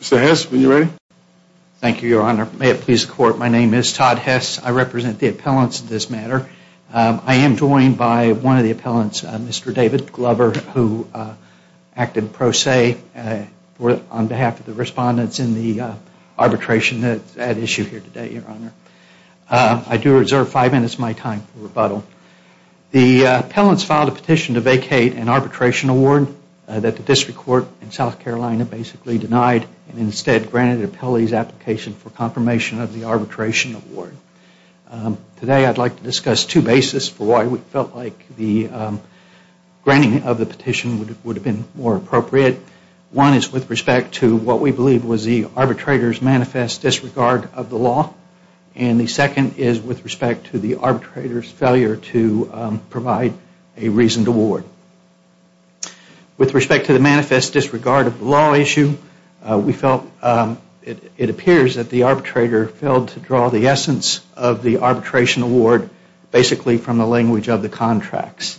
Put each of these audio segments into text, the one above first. Mr. Hess, are you ready? Thank you, Your Honor. May it please the Court, my name is Todd Hess. I represent the appellants in this matter. I am joined by one of the appellants, Mr. David Glover, who acted pro se on behalf of the respondents in the arbitration at issue here today, Your Honor. I do reserve five minutes of my time for rebuttal. The appellants filed a petition to vacate an arbitration award that the District Court in South Carolina basically denied and instead granted an appellee's application for confirmation of the arbitration award. Today I would like to discuss two bases for why we felt like the granting of the petition would have been more appropriate. One is with respect to what we believe was the arbitrator's manifest disregard of the law. And the second is with respect to the arbitrator's failure to provide a reasoned award. With respect to the manifest disregard of the law issue, we felt it appears that the arbitrator failed to draw the essence of the arbitration award basically from the language of the contracts,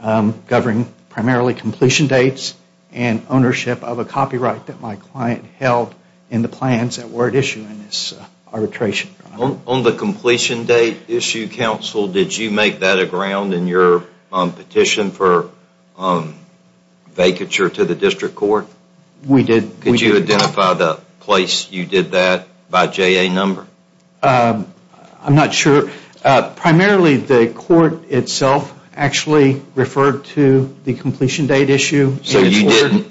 governing primarily completion dates and ownership of a copyright that my client held in the plans that were at issue in this arbitration. On the completion date issue, counsel, did you make that a ground in your petition for vacature to the District Court? We did. Could you identify the place you did that by JA number? I'm not sure. Primarily the court itself actually referred to the completion date issue. So you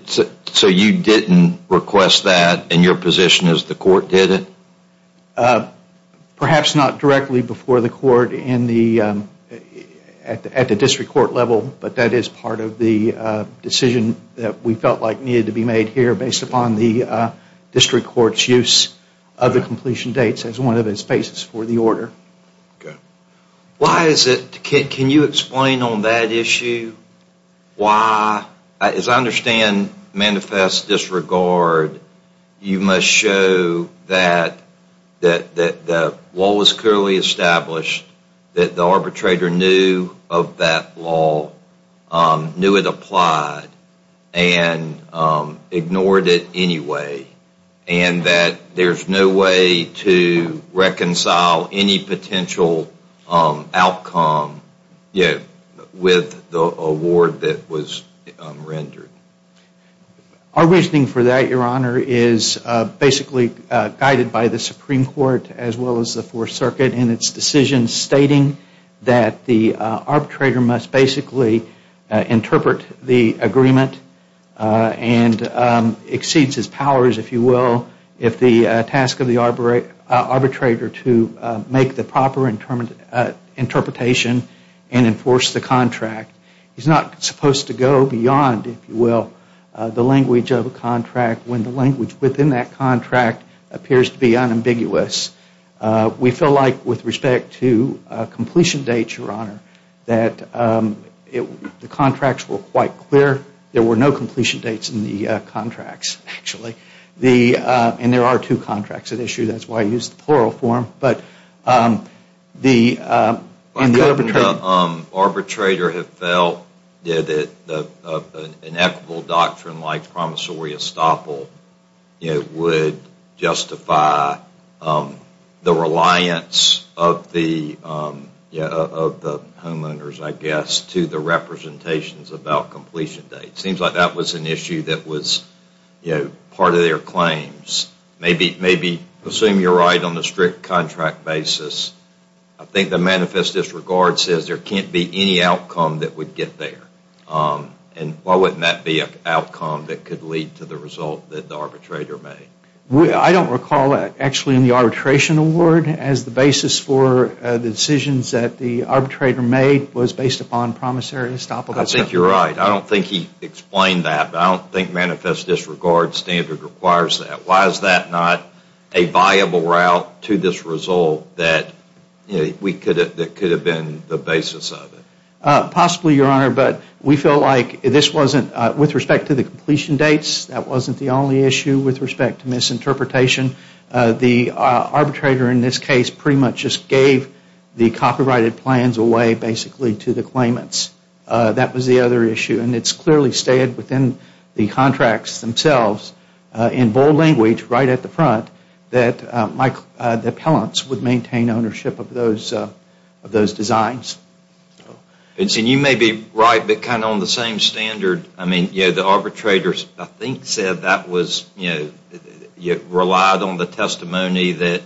didn't request that in your position as the court did it? Perhaps not directly before the court at the District Court level, but that is part of the decision that we felt like needed to be made here based upon the District Court's use of the completion dates as one of the spaces for the order. Why is it, can you explain on that issue why, as I understand manifest disregard, you must show that the law was clearly established, that the arbitrator knew of that law, knew it applied, and ignored it anyway, and that there's no way to reconcile any potential outcome with the award that was rendered? Our reasoning for that, Your Honor, is basically guided by the Supreme Court as well as the Fourth Circuit in its decision stating that the arbitrator must basically interpret the agreement and exceeds his powers, if you will, if the task of the arbitrator to make the proper interpretation and enforce the contract. He's not supposed to go beyond, if you will, the language of a contract when the language within that contract appears to be unambiguous. We feel like with respect to completion dates, Your Honor, that the contracts were quite clear. There were no completion dates in the contracts, actually, and there are two contracts at issue. That's why I used the plural form. But the arbitrator had felt that an equitable doctrine like promissory estoppel would justify the reliance of the homeowners, I guess, to the representations about completion dates. Seems like that was an issue that was part of their claims. Maybe assume you're right on the strict contract basis. I think the manifest disregard says there can't be any outcome that would get there. And why wouldn't that be an outcome that could lead to the result that the arbitrator made? I don't recall actually in the arbitration award as the basis for the decisions that the arbitrator made was based upon promissory estoppel. I think you're right. I don't think he explained that. I don't think manifest disregard standard requires that. Why is that not a viable route to this result that could have been the basis of it? Possibly, Your Honor. But we feel like this wasn't, with respect to the completion dates, that wasn't the only issue with respect to misinterpretation. The arbitrator in this case pretty much just gave the copyrighted plans away, basically, to the claimants. That was the other issue. And it's clearly stated within the contracts themselves in bold language right at the front that the appellants would maintain ownership of those designs. And you may be right, but kind of on the same standard. I mean, the arbitrators, I think, said that was, you know, relied on the testimony that,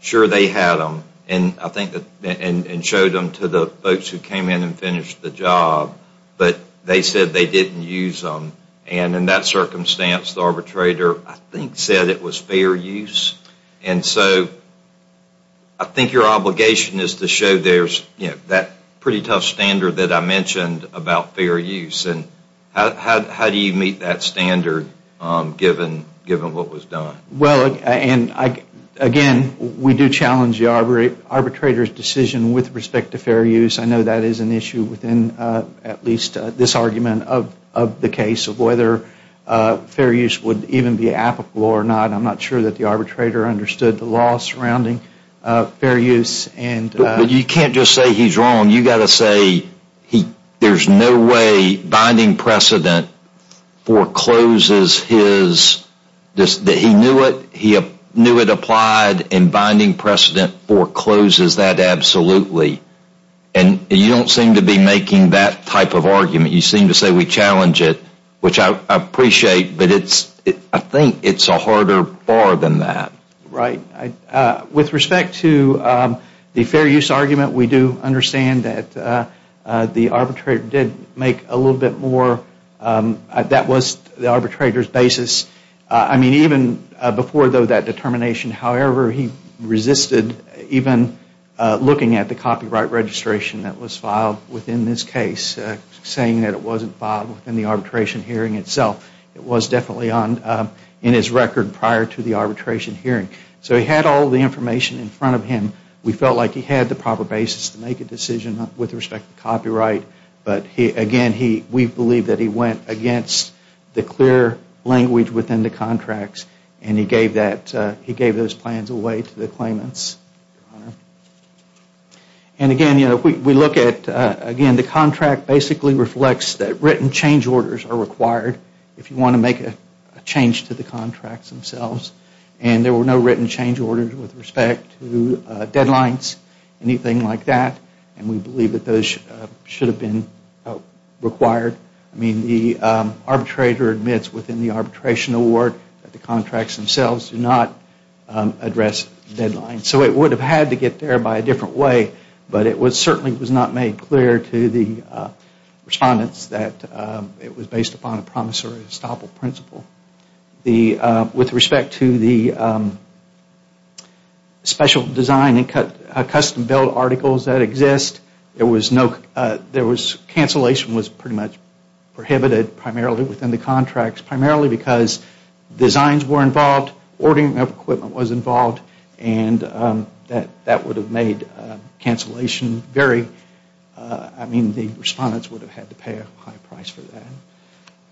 sure, they had them. And I think that, and showed them to the folks who came in and finished the job. But they said they didn't use them. And in that circumstance, the arbitrator, I think, said it was fair use. And so I think your obligation is to show there's, you know, that pretty tough standard that I mentioned about fair use. And how do you meet that standard given what was done? Well, and again, we do challenge the arbitrator's decision with respect to fair use. I know that is an issue within at least this argument of the case of whether fair use would even be applicable or not. I'm not sure that the arbitrator understood the law surrounding fair use. But you can't just say he's wrong. You've got to say there's no way binding precedent forecloses his, that he knew it, he knew it applied, and binding precedent forecloses that absolutely. And you don't seem to be making that type of argument. You seem to say we challenge it, which I appreciate. But it's, I think it's a harder bar than that. Right. With respect to the fair use argument, we do understand that the arbitrator did make a little bit more, that was the arbitrator's basis. I mean, even before, though, that determination, however, he resisted even looking at the copyright registration that was filed within this case, saying that it wasn't filed within the arbitration hearing itself. It was definitely on, in his record prior to the arbitration hearing. So he had all the information in front of him. We felt like he had the proper basis to make a decision with respect to copyright. But again, we believe that he went against the clear language within the contracts and he gave that, he gave those plans away to the claimants. And again, you know, we look at, again, the contract basically reflects that written change orders are required if you want to make a change to the contracts themselves. And there were no written change orders with respect to deadlines, anything like that. And we believe that those should have been required. I mean, the arbitrator admits within the arbitration award that the contracts themselves do not address deadlines. So it would have had to get there by a different way. But it certainly was not made clear to the respondents that it was based upon a promissory estoppel principle. With respect to the special design and custom build articles that exist, there was no, there was, cancellation was pretty much prohibited primarily within the contracts, primarily because designs were involved, ordering of equipment was involved, and that would have made cancellation very, I mean, the respondents would have had to pay a high price for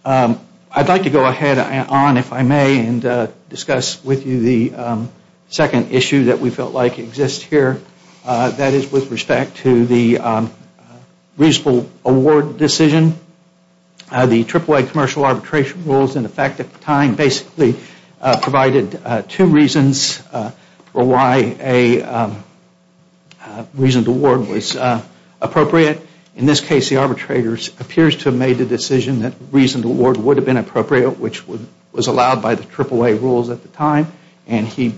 that. I'd like to go ahead on, if I may, and discuss with you the second issue that we felt like exists here. That is with respect to the reasonable award decision. The AAA commercial arbitration rules in effect at the time basically provided two reasons for why a reasoned award was appropriate. In this case, the arbitrator appears to have made the decision that reasoned award would have been appropriate, which was allowed by the AAA rules at the time, and he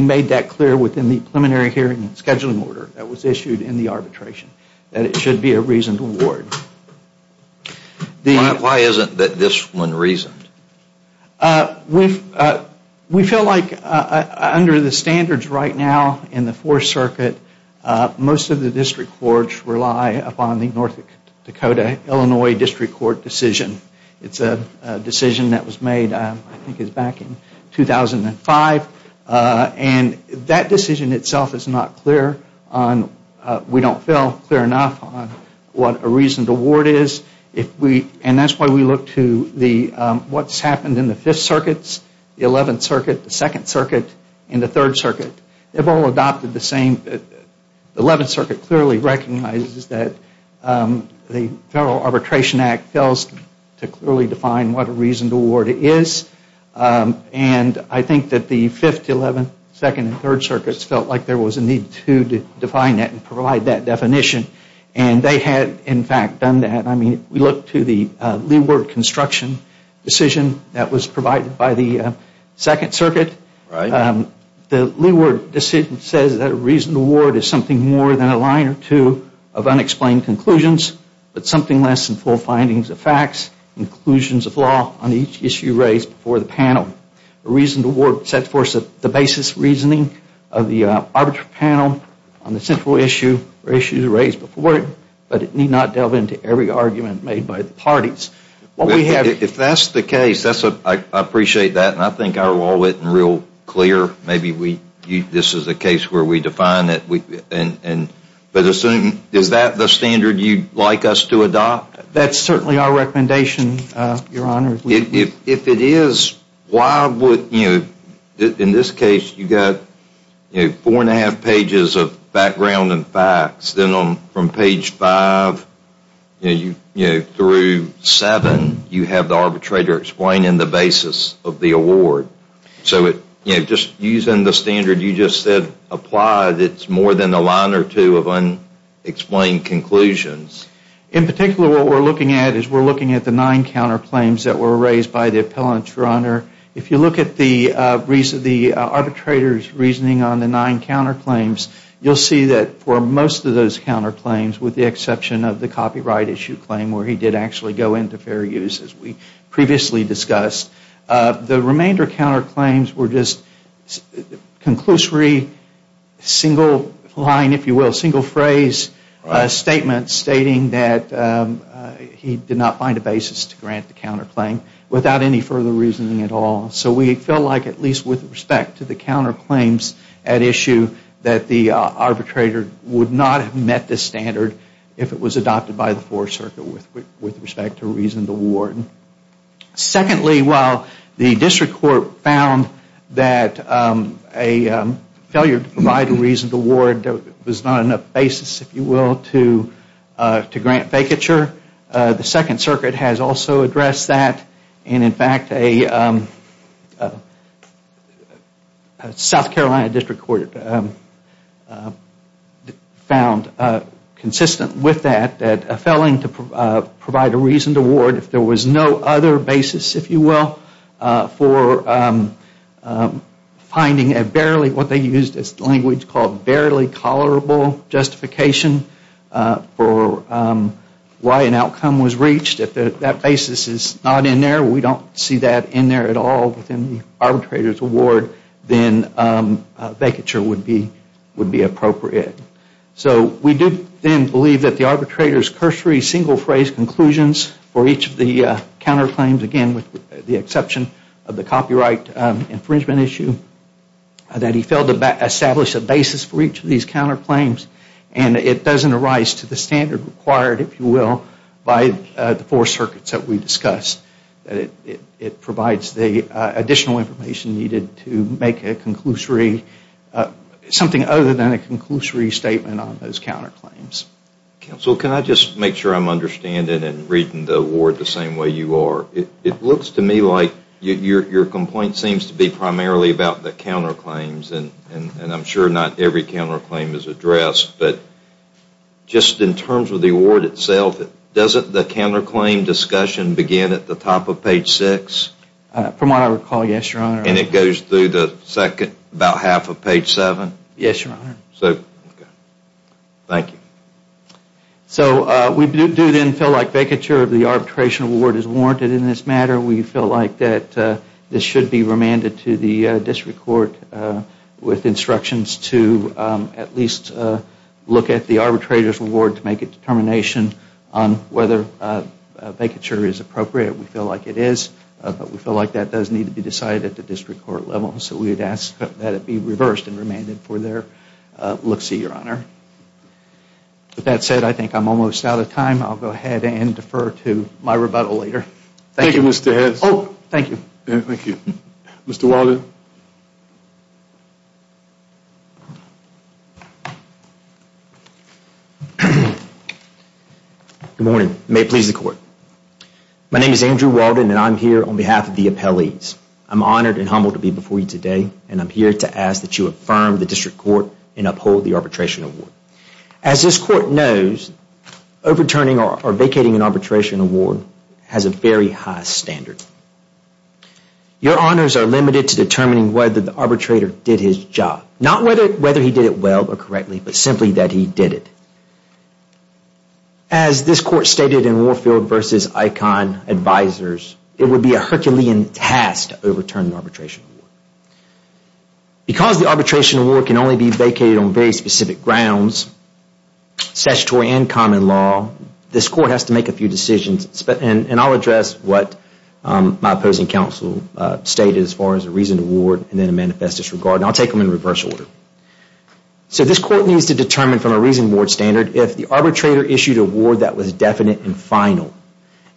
made that clear within the preliminary hearing and scheduling order that was issued in the arbitration, that it should be a reasoned award. Why isn't this one reasoned? We feel like under the standards right now in the Fourth Circuit, most of the district courts rely upon the North Dakota-Illinois District Court decision. It's a decision that was made, I think it was back in 2005, and that decision itself is not clear on, we don't feel clear enough on what a reasoned award is. And that's why we look to what's happened in the Fifth Circuit, the Eleventh Circuit, the Second Circuit, and the Third Circuit. They've all adopted the same, the Eleventh Circuit clearly recognizes that the Federal Arbitration Act fails to clearly define what a reasoned award is, and I think that the Fifth, Eleventh, Second, and Third Circuits felt like there was a need to define that and provide that definition. And they had, in fact, done that. I mean, we look to the leeward construction decision that was provided by the Second Circuit. The leeward decision says that a reasoned award is something more than a line or two of unexplained conclusions, but something less than full findings of facts and conclusions of law on each issue raised before the panel. A reasoned award sets forth the basis reasoning of the arbitral panel on the central issue or issues raised before it, but it need not delve into every argument made by the parties. If that's the case, I appreciate that, and I think our law written real clear, maybe this is a case where we define it, but is that the standard you'd like us to adopt? That's certainly our recommendation, Your Honor. If it is, why would, you know, in this case, you've got four and a half pages of background and facts, then from page five through seven, you have the arbitrator explaining the basis of the award. So just using the standard you just said applied, it's more than a line or two of unexplained conclusions. In particular, what we're looking at is we're looking at the nine counterclaims that were raised by the appellant, Your Honor. If you look at the arbitrator's reasoning on the nine counterclaims, you'll see that for most of those counterclaims, with the exception of the copyright issue claim, where he did actually go into fair use, as we previously discussed, the remainder of counterclaims were just conclusory single line, if you will, single phrase statements stating that he did not find a basis to grant the counterclaim without any further reasoning at all. So we felt like at least with respect to the counterclaims at issue, that the arbitrator would not have met the standard if it was adopted by the Fourth Circuit with respect to reason to award. Secondly, while the District Court found that a failure to provide a reason to award was not enough basis, if you will, to grant vacature, the Second Circuit has also addressed that. And in fact, a South Carolina District Court found consistent with that, that a failing to provide a reason to award, if there was no other basis, if you will, for finding a barely, what they used as the language called barely tolerable justification for why an outcome was reached, if that basis is not in there, we don't see that in there at all within the arbitrator's award, then vacature would be appropriate. So we do then believe that the arbitrator's cursory single phrase conclusions for each of the counterclaims, again with the exception of the copyright infringement issue, that he failed to establish a basis for each of these counterclaims and it doesn't arise to the standard required, if you will, by the Four Circuits that we discussed. It provides the additional information needed to make a conclusory, something other than a conclusory statement on those counterclaims. Counsel, can I just make sure I'm understanding and reading the award the same way you are? It looks to me like your complaint seems to be primarily about the counterclaims and I'm sure not every counterclaim is addressed, but just in terms of the award itself, doesn't the counterclaim discussion begin at the top of page six? From what I recall, yes, your honor. And it goes through the second, about half of page seven? Yes, your honor. So, thank you. So we do then feel like vacature of the arbitration award is warranted in this matter. We feel like that this should be remanded to the district court with instructions to at least look at the arbitrator's award to make a determination on whether vacature is appropriate. We feel like it is, but we feel like that does need to be decided at the district court level. So we would ask that it be reversed and remanded for their looks, your honor. With that said, I think I'm almost out of time. I'll go ahead and defer to my rebuttal later. Thank you, Mr. Hedges. Oh, thank you. Thank you. Mr. Walden? Good morning. May it please the court. My name is Andrew Walden, and I'm here on behalf of the appellees. I'm honored and humbled to be before you today, and I'm here to ask that you affirm the district court and uphold the arbitration award. As this court knows, overturning or vacating an arbitration award has a very high standard. Your honors are limited to determining whether the arbitrator did his job. Not whether he did it well or correctly, but simply that he did it. As this court stated in Warfield v. Icahn Advisors, it would be a Herculean task to overturn an arbitration award. Because the arbitration award can only be vacated on very specific grounds, statutory and common law, this court has to make a few decisions. And I'll address what my opposing counsel stated as far as a reasoned award and then a manifest disregard. And I'll take them in reverse order. So this court needs to determine from a reasoned award standard if the arbitrator issued an award that was definite and final.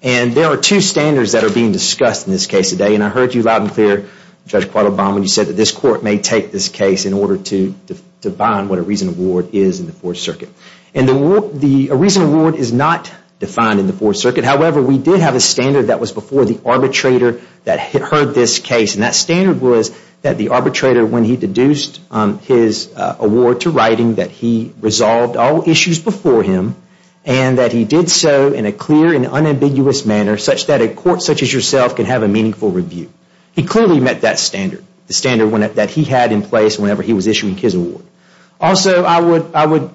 And there are two standards that are being discussed in this case today. And I heard you loud and clear, Judge Quattlebaum, when you said that this court may take this case in order to define what a reasoned award is in the Fourth Circuit. And a reasoned award is not defined in the Fourth Circuit. However, we did have a standard that was before the arbitrator that heard this case. And that standard was that the arbitrator, when he deduced his award to writing, that he resolved all issues before him. And that he did so in a clear and unambiguous manner such that a court such as yourself can have a meaningful review. He clearly met that standard, the standard that he had in place whenever he was issuing his award. Also, I would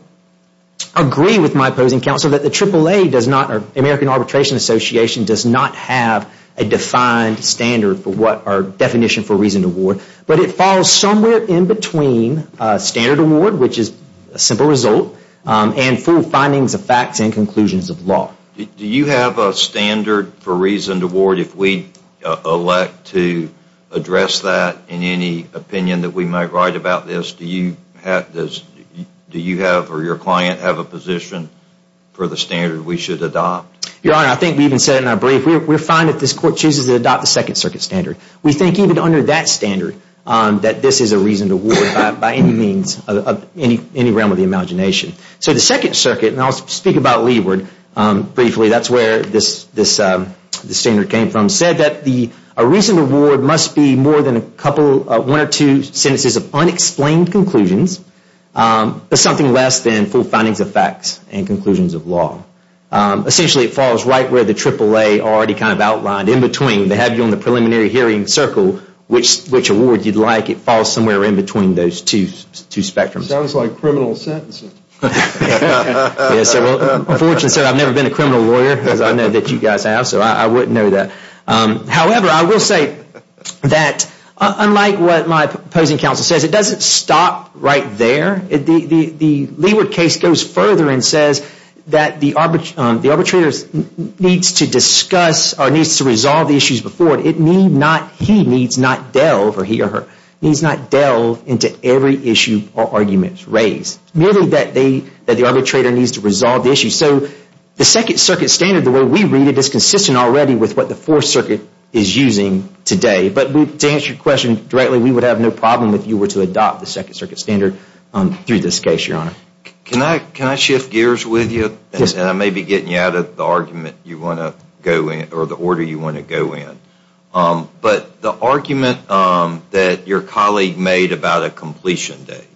agree with my opposing counsel that the AAA, American Arbitration Association, does not have a defined standard for what our definition for reasoned award. But it falls somewhere in between a standard award, which is a simple result, and full findings of facts and conclusions of law. Do you have a standard for reasoned award if we elect to address that in any opinion that we might write about this? Do you have or your client have a position for the standard we should adopt? Your Honor, I think we even said in our brief, we're fine if this court chooses to adopt the Second Circuit standard. We think even under that standard that this is a reasoned award by any means, any realm of the imagination. So the Second Circuit, and I'll speak about Leeward briefly, that's where this standard came from, said that a reasoned award must be more than one or two sentences of unexplained conclusions, but something less than full findings of facts and conclusions of law. Essentially, it falls right where the AAA already kind of outlined in between. They have you on the preliminary hearing circle which award you'd like. It falls somewhere in between those two spectrums. Sounds like criminal sentencing. Unfortunately, sir, I've never been a criminal lawyer, as I know that you guys have, so I wouldn't know that. However, I will say that unlike what my opposing counsel says, it doesn't stop right there. The Leeward case goes further and says that the arbitrator needs to discuss or needs to resolve the issues before it. He needs not delve, or he or her, needs not delve into every issue or argument raised. It's merely that the arbitrator needs to resolve the issue. So the Second Circuit standard, the way we read it, is consistent already with what the Fourth Circuit is using today. But to answer your question directly, we would have no problem if you were to adopt the Second Circuit standard through this case, Your Honor. Can I shift gears with you? Yes. And I may be getting you out of the argument you want to go in, or the order you want to go in. But the argument that your colleague made about a completion date,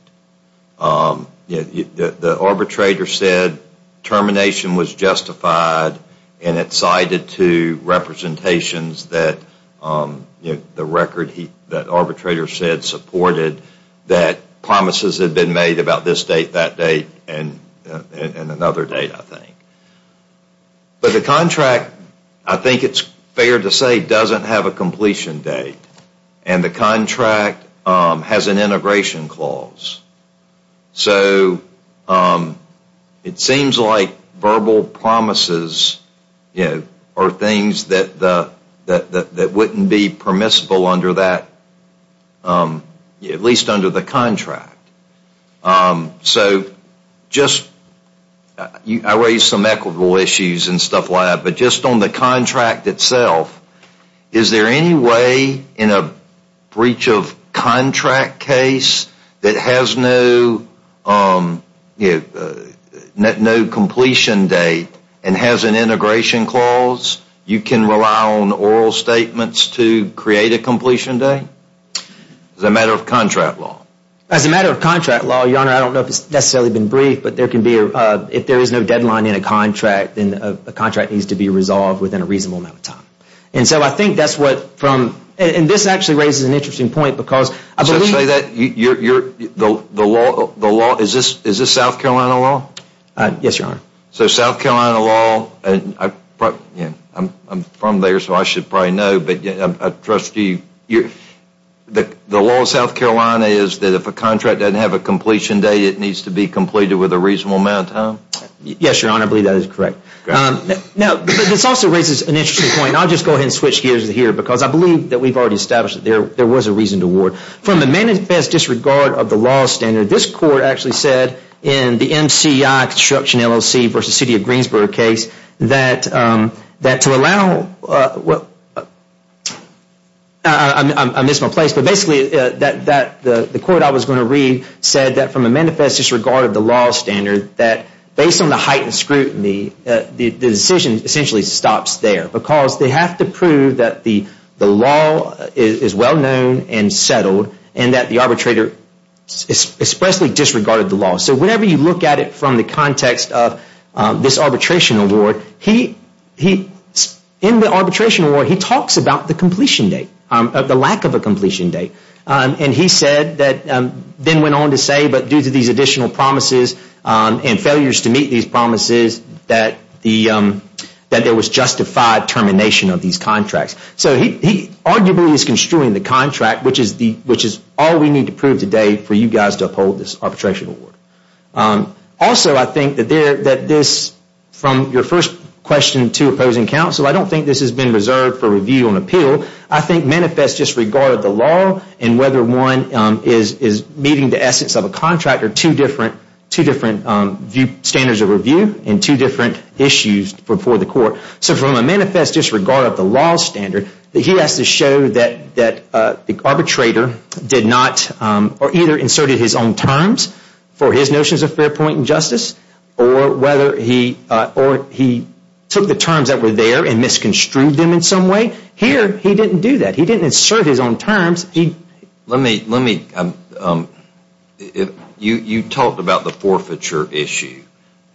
the arbitrator said termination was justified, and it cited to representations that the record that arbitrator said supported that promises had been made about this date, that date, and another date, I think. But the contract, I think it's fair to say, doesn't have a completion date. And the contract has an integration clause. So it seems like verbal promises are things that wouldn't be permissible under that, at least under the contract. So just, I raised some equitable issues and stuff like that, but just on the contract itself, is there any way in a breach of contract case that has no completion date and has an integration clause? You can rely on oral statements to create a completion date? As a matter of contract law? As a matter of contract law, Your Honor, I don't know if it's necessarily been briefed, but if there is no deadline in a contract, then a contract needs to be resolved within a reasonable amount of time. And so I think that's what, and this actually raises an interesting point because I believe So say that, the law, is this South Carolina law? Yes, Your Honor. So South Carolina law, and I'm from there so I should probably know, but trustee, the law of South Carolina is that if a contract doesn't have a completion date, it needs to be completed with a reasonable amount of time? Yes, Your Honor, I believe that is correct. Now, this also raises an interesting point, and I'll just go ahead and switch gears here because I believe that we've already established that there was a reason to ward. From the manifest disregard of the law standard, this court actually said in the MCI Construction LLC v. City of Greensboro case that to allow, I missed my place, but basically the court I was going to read said that from a manifest disregard of the law standard, that based on the heightened scrutiny, the decision essentially stops there because they have to prove that the law is well known and settled and that the arbitrator expressly disregarded the law. So whenever you look at it from the context of this arbitration award, in the arbitration award, he talks about the completion date, the lack of a completion date. And he said, then went on to say, but due to these additional promises and failures to meet these promises, that there was justified termination of these contracts. So he arguably is construing the contract, which is all we need to prove today for you guys to uphold this arbitration award. Also, I think that this, from your first question to opposing counsel, I don't think this has been reserved for review and appeal. I think manifest disregard of the law and whether one is meeting the essence of a contract are two different standards of review and two different issues for the court. So from a manifest disregard of the law standard, that he has to show that the arbitrator did not or either inserted his own terms for his notions of fair point and justice or whether he took the terms that were there and misconstrued them in some way. Here, he didn't do that. He didn't insert his own terms. Let me, you talked about the forfeiture issue,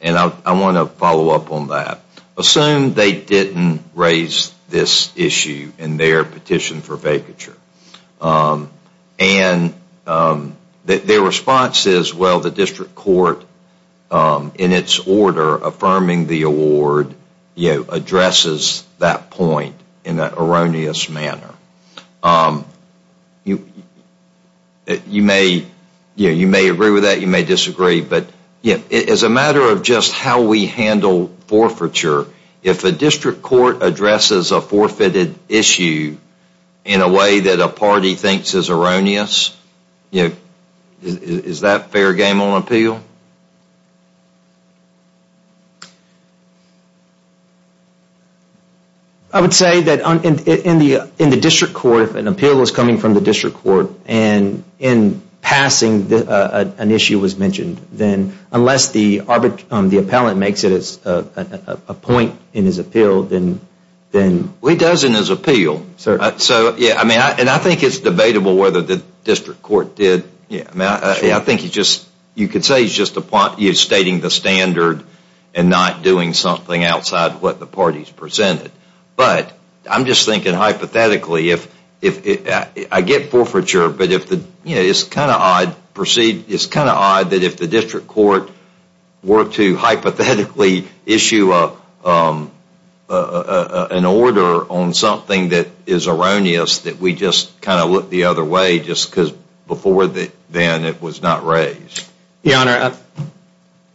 and I want to follow up on that. Assume they didn't raise this issue in their petition for vacature. And their response is, well, the district court in its order affirming the award addresses that point in an erroneous manner. You may agree with that. You may disagree. But as a matter of just how we handle forfeiture, if a district court addresses a forfeited issue in a way that a party thinks is erroneous, is that fair game on appeal? I would say that in the district court, if an appeal is coming from the district court and in passing, an issue was mentioned, then unless the appellant makes it a point in his appeal, then Well, he does in his appeal. And I think it's debatable whether the district court did. I think you could say he's just stating the standard and not doing something outside what the party's presented. But I'm just thinking hypothetically, I get forfeiture, but it's kind of odd that if the district court were to hypothetically issue an order on something that is erroneous that we just kind of look the other way just because before then it was not raised. Your Honor,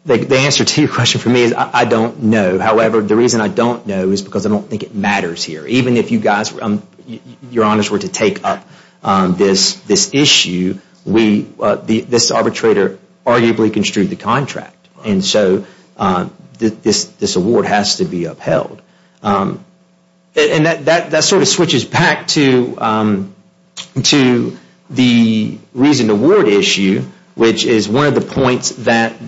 the answer to your question for me is I don't know. However, the reason I don't know is because I don't think it matters here. Even if you guys, Your Honors, were to take up this issue, this arbitrator arguably construed the contract. And so this award has to be upheld. And that sort of switches back to the reason award issue, which is one of the points that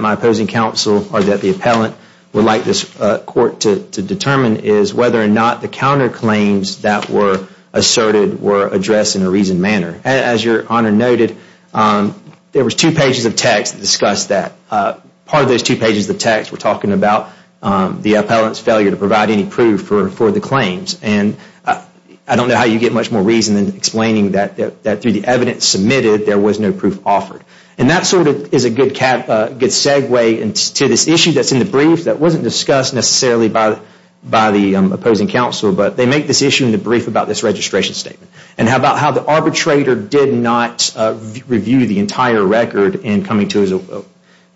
my opposing counsel or that the appellant would like this court to determine is whether or not the counterclaims that were asserted were addressed in a reasoned manner. As Your Honor noted, there was two pages of text that discussed that. Part of those two pages of text were talking about the appellant's failure to provide any proof for the claims. And I don't know how you get much more reason than explaining that through the evidence submitted there was no proof offered. And that sort of is a good segue into this issue that's in the brief that wasn't discussed necessarily by the opposing counsel. But they make this issue in the brief about this registration statement. And how about how the arbitrator did not review the entire record in coming to his own.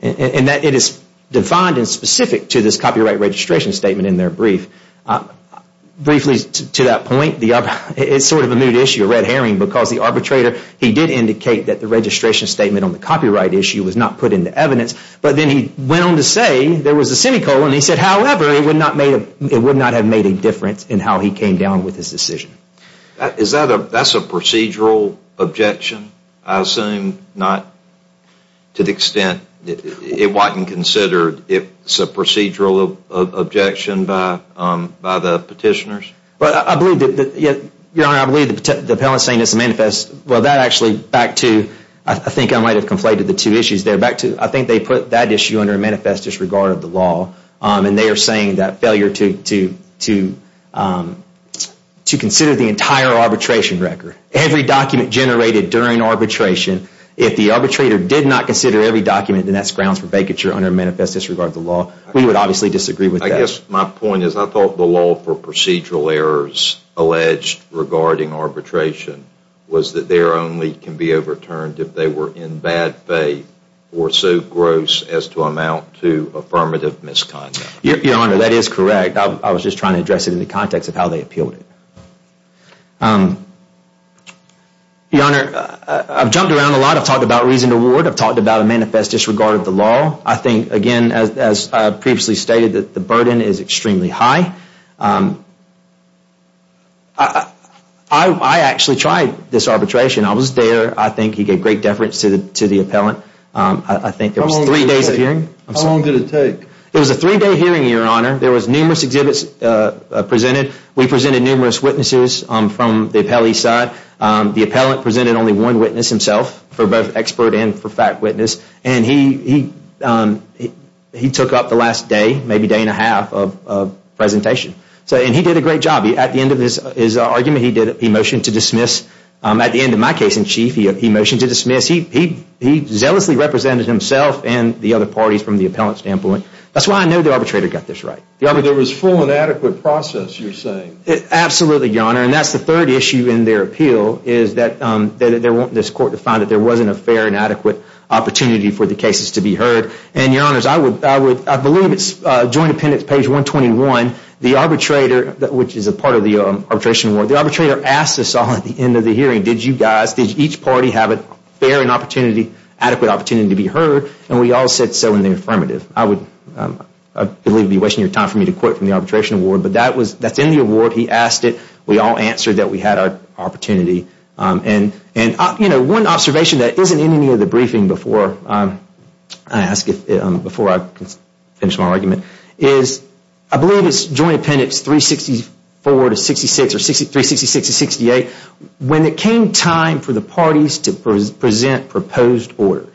And that it is defined and specific to this copyright registration statement in their brief. Briefly to that point, it's sort of a moot issue, a red herring, because the arbitrator, he did indicate that the registration statement on the copyright issue was not put into evidence. But then he went on to say there was a semicolon. He said, however, it would not have made a difference in how he came down with his decision. Is that a procedural objection? I assume not to the extent it wasn't considered if it's a procedural objection by the petitioners. Your Honor, I believe the appellant is saying it's a manifest. Well, that actually, back to, I think I might have conflated the two issues there. I think they put that issue under a manifest disregard of the law. And they are saying that failure to consider the entire arbitration record. Every document generated during arbitration. If the arbitrator did not consider every document, then that's grounds for vacature under a manifest disregard of the law. We would obviously disagree with that. I guess my point is I thought the law for procedural errors alleged regarding arbitration was that there only can be overturned if they were in bad faith or so gross as to amount to affirmative misconduct. Your Honor, that is correct. I was just trying to address it in the context of how they appealed it. Your Honor, I've jumped around a lot. I've talked about reasoned award. I've talked about a manifest disregard of the law. I think, again, as previously stated, that the burden is extremely high. I actually tried this arbitration. I was there. I think he gave great deference to the appellant. I think there was three days of hearing. How long did it take? It was a three-day hearing, Your Honor. There was numerous exhibits presented. We presented numerous witnesses from the appellee side. The appellant presented only one witness himself for both expert and for fact witness. And he took up the last day, maybe day and a half of presentation. And he did a great job. At the end of his argument, he motioned to dismiss. At the end of my case in chief, he motioned to dismiss. He zealously represented himself and the other parties from the appellant standpoint. That's why I know the arbitrator got this right. There was full and adequate process, you're saying. Absolutely, Your Honor. And that's the third issue in their appeal is that they want this court to find that there wasn't a fair and adequate opportunity for the cases to be heard. And, Your Honors, I believe it's joint appendix page 121. The arbitrator, which is a part of the arbitration award, the arbitrator asked us all at the end of the hearing, did you guys, did each party have a fair and opportunity, adequate opportunity to be heard? And we all said so in the affirmative. I believe you're wasting your time for me to quote from the arbitration award, but that's in the award. He asked it. We all answered that we had our opportunity. And, you know, one observation that isn't in any of the briefing before I ask it, before I finish my argument, is I believe it's joint appendix 364 to 66 or 366 to 68. When it came time for the parties to present proposed orders,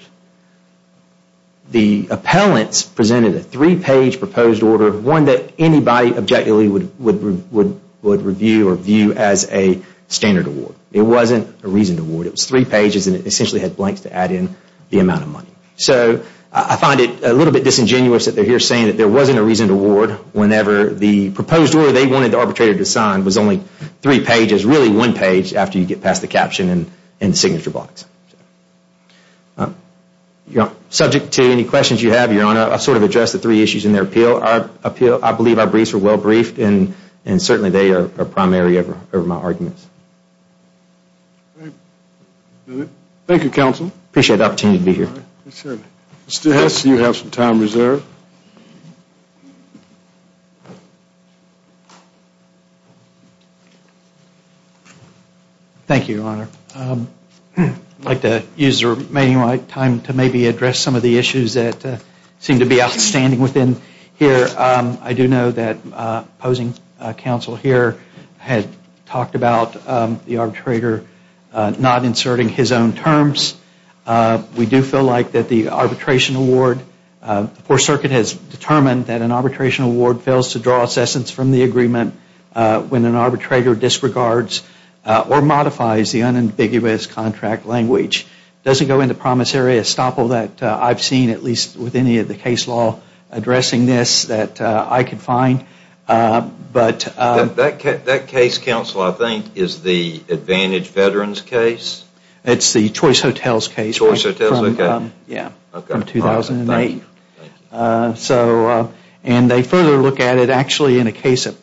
the appellants presented a three-page proposed order, one that anybody objectively would review or view as a standard award. It wasn't a reasoned award. It was three pages and it essentially had blanks to add in the amount of money. So I find it a little bit disingenuous that they're here saying that there wasn't a reasoned award whenever the proposed order they wanted the arbitrator to sign was only three pages, really one page after you get past the caption and the signature box. Subject to any questions you have, Your Honor, I sort of addressed the three issues in their appeal. I believe our briefs were well briefed and certainly they are primary of my arguments. Thank you, Counsel. I appreciate the opportunity to be here. Mr. Hess, you have some time reserved. Thank you, Your Honor. I'd like to use the remaining of my time to maybe address some of the issues that seem to be outstanding within here. I do know that opposing counsel here had talked about the arbitrator not inserting his own terms. We do feel like that the arbitration award, the Fourth Circuit has determined that an arbitration award fails to draw assessments from the agreement when an arbitrator disregards or modifies the unambiguous contract language. It doesn't go into promissory estoppel that I've seen, at least with any of the case law addressing this, that I could find. That case, Counsel, I think is the Advantage Veterans case. It's the Choice Hotels case from 2008. They further look at it actually in a case that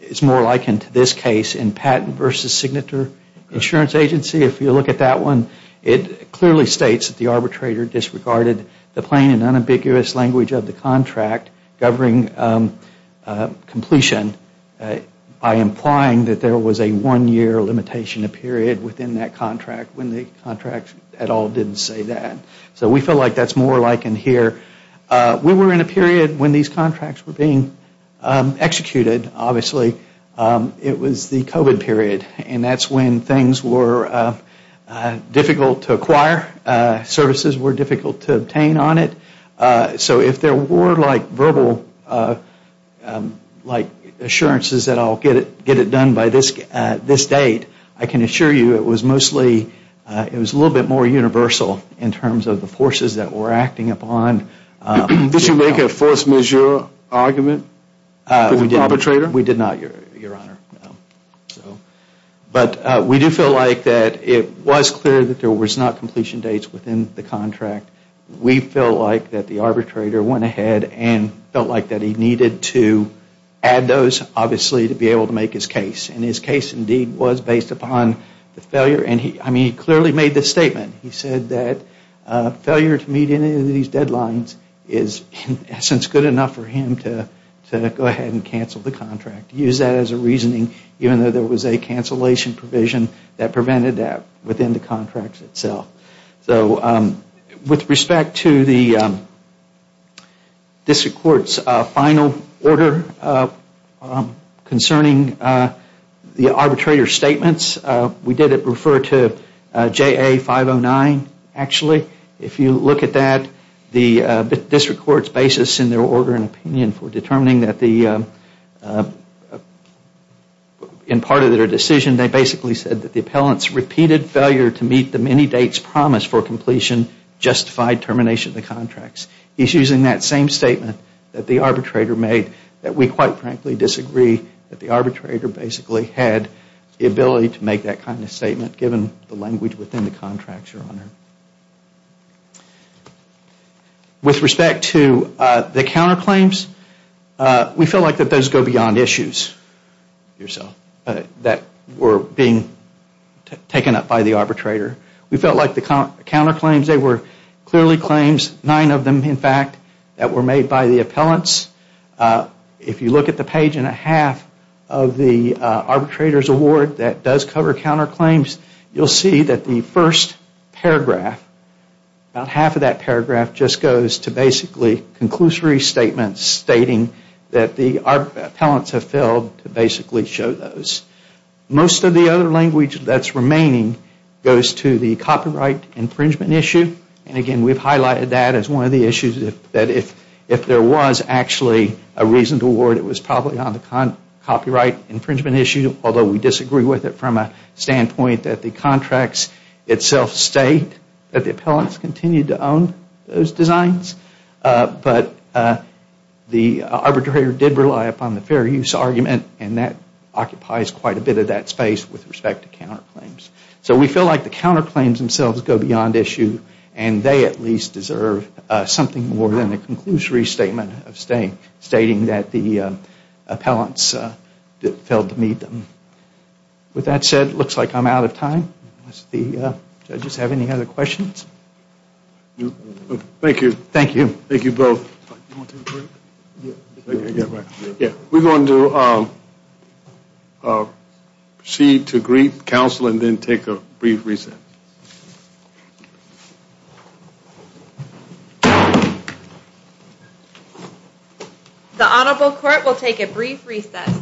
is more likened to this case in Patent v. Signature Insurance Agency. If you look at that one, it clearly states that the arbitrator disregarded the plain and unambiguous language of the contract governing completion by implying that there was a one-year limitation period within that contract when the contract at all didn't say that. So we feel like that's more likened here. We were in a period when these contracts were being executed, obviously. It was the COVID period, and that's when things were difficult to acquire, services were difficult to obtain on it. So if there were verbal assurances that I'll get it done by this date, I can assure you it was mostly, it was a little bit more universal in terms of the forces that were acting upon. Did you make a force majeure argument for the arbitrator? We did not, Your Honor. But we do feel like that it was clear that there was not completion dates within the contract. We felt like that the arbitrator went ahead and felt like that he needed to add those, obviously, to be able to make his case. And his case, indeed, was based upon the failure. And he clearly made this statement. He said that failure to meet any of these deadlines is, in essence, good enough for him to go ahead and cancel the contract. Use that as a reasoning, even though there was a cancellation provision that prevented that within the contract itself. With respect to the district court's final order concerning the arbitrator's statements, we did refer to JA 509, actually. If you look at that, the district court's basis in their order and opinion for determining that the, in part of their decision, they basically said that the appellant's repeated failure to meet the many dates promised for completion justified termination of the contracts. He's using that same statement that the arbitrator made that we, quite frankly, disagree that the arbitrator basically had the ability to make that kind of statement, given the language within the contracts, Your Honor. With respect to the counterclaims, we feel like that those go beyond issues, yourself, that were being taken up by the arbitrator. We felt like the counterclaims, they were clearly claims, nine of them, in fact, that were made by the appellants. If you look at the page and a half of the arbitrator's award that does cover counterclaims, you'll see that the first paragraph, about half of that paragraph just goes to basically conclusory statements stating that the appellants have failed to basically show those. Most of the other language that's remaining goes to the copyright infringement issue. Again, we've highlighted that as one of the issues that if there was actually a reason to award, it was probably on the copyright infringement issue, although we disagree with it from a standpoint that the contracts itself state that the appellants continued to own those designs. But the arbitrator did rely upon the fair use argument, and that occupies quite a bit of that space with respect to counterclaims. So we feel like the counterclaims themselves go beyond issue, and they at least deserve something more than a conclusory statement stating that the appellants failed to meet them. With that said, it looks like I'm out of time. Do the judges have any other questions? Thank you. Thank you. Thank you both. We're going to proceed to brief counsel and then take a brief recess. The Honorable Court will take a brief recess.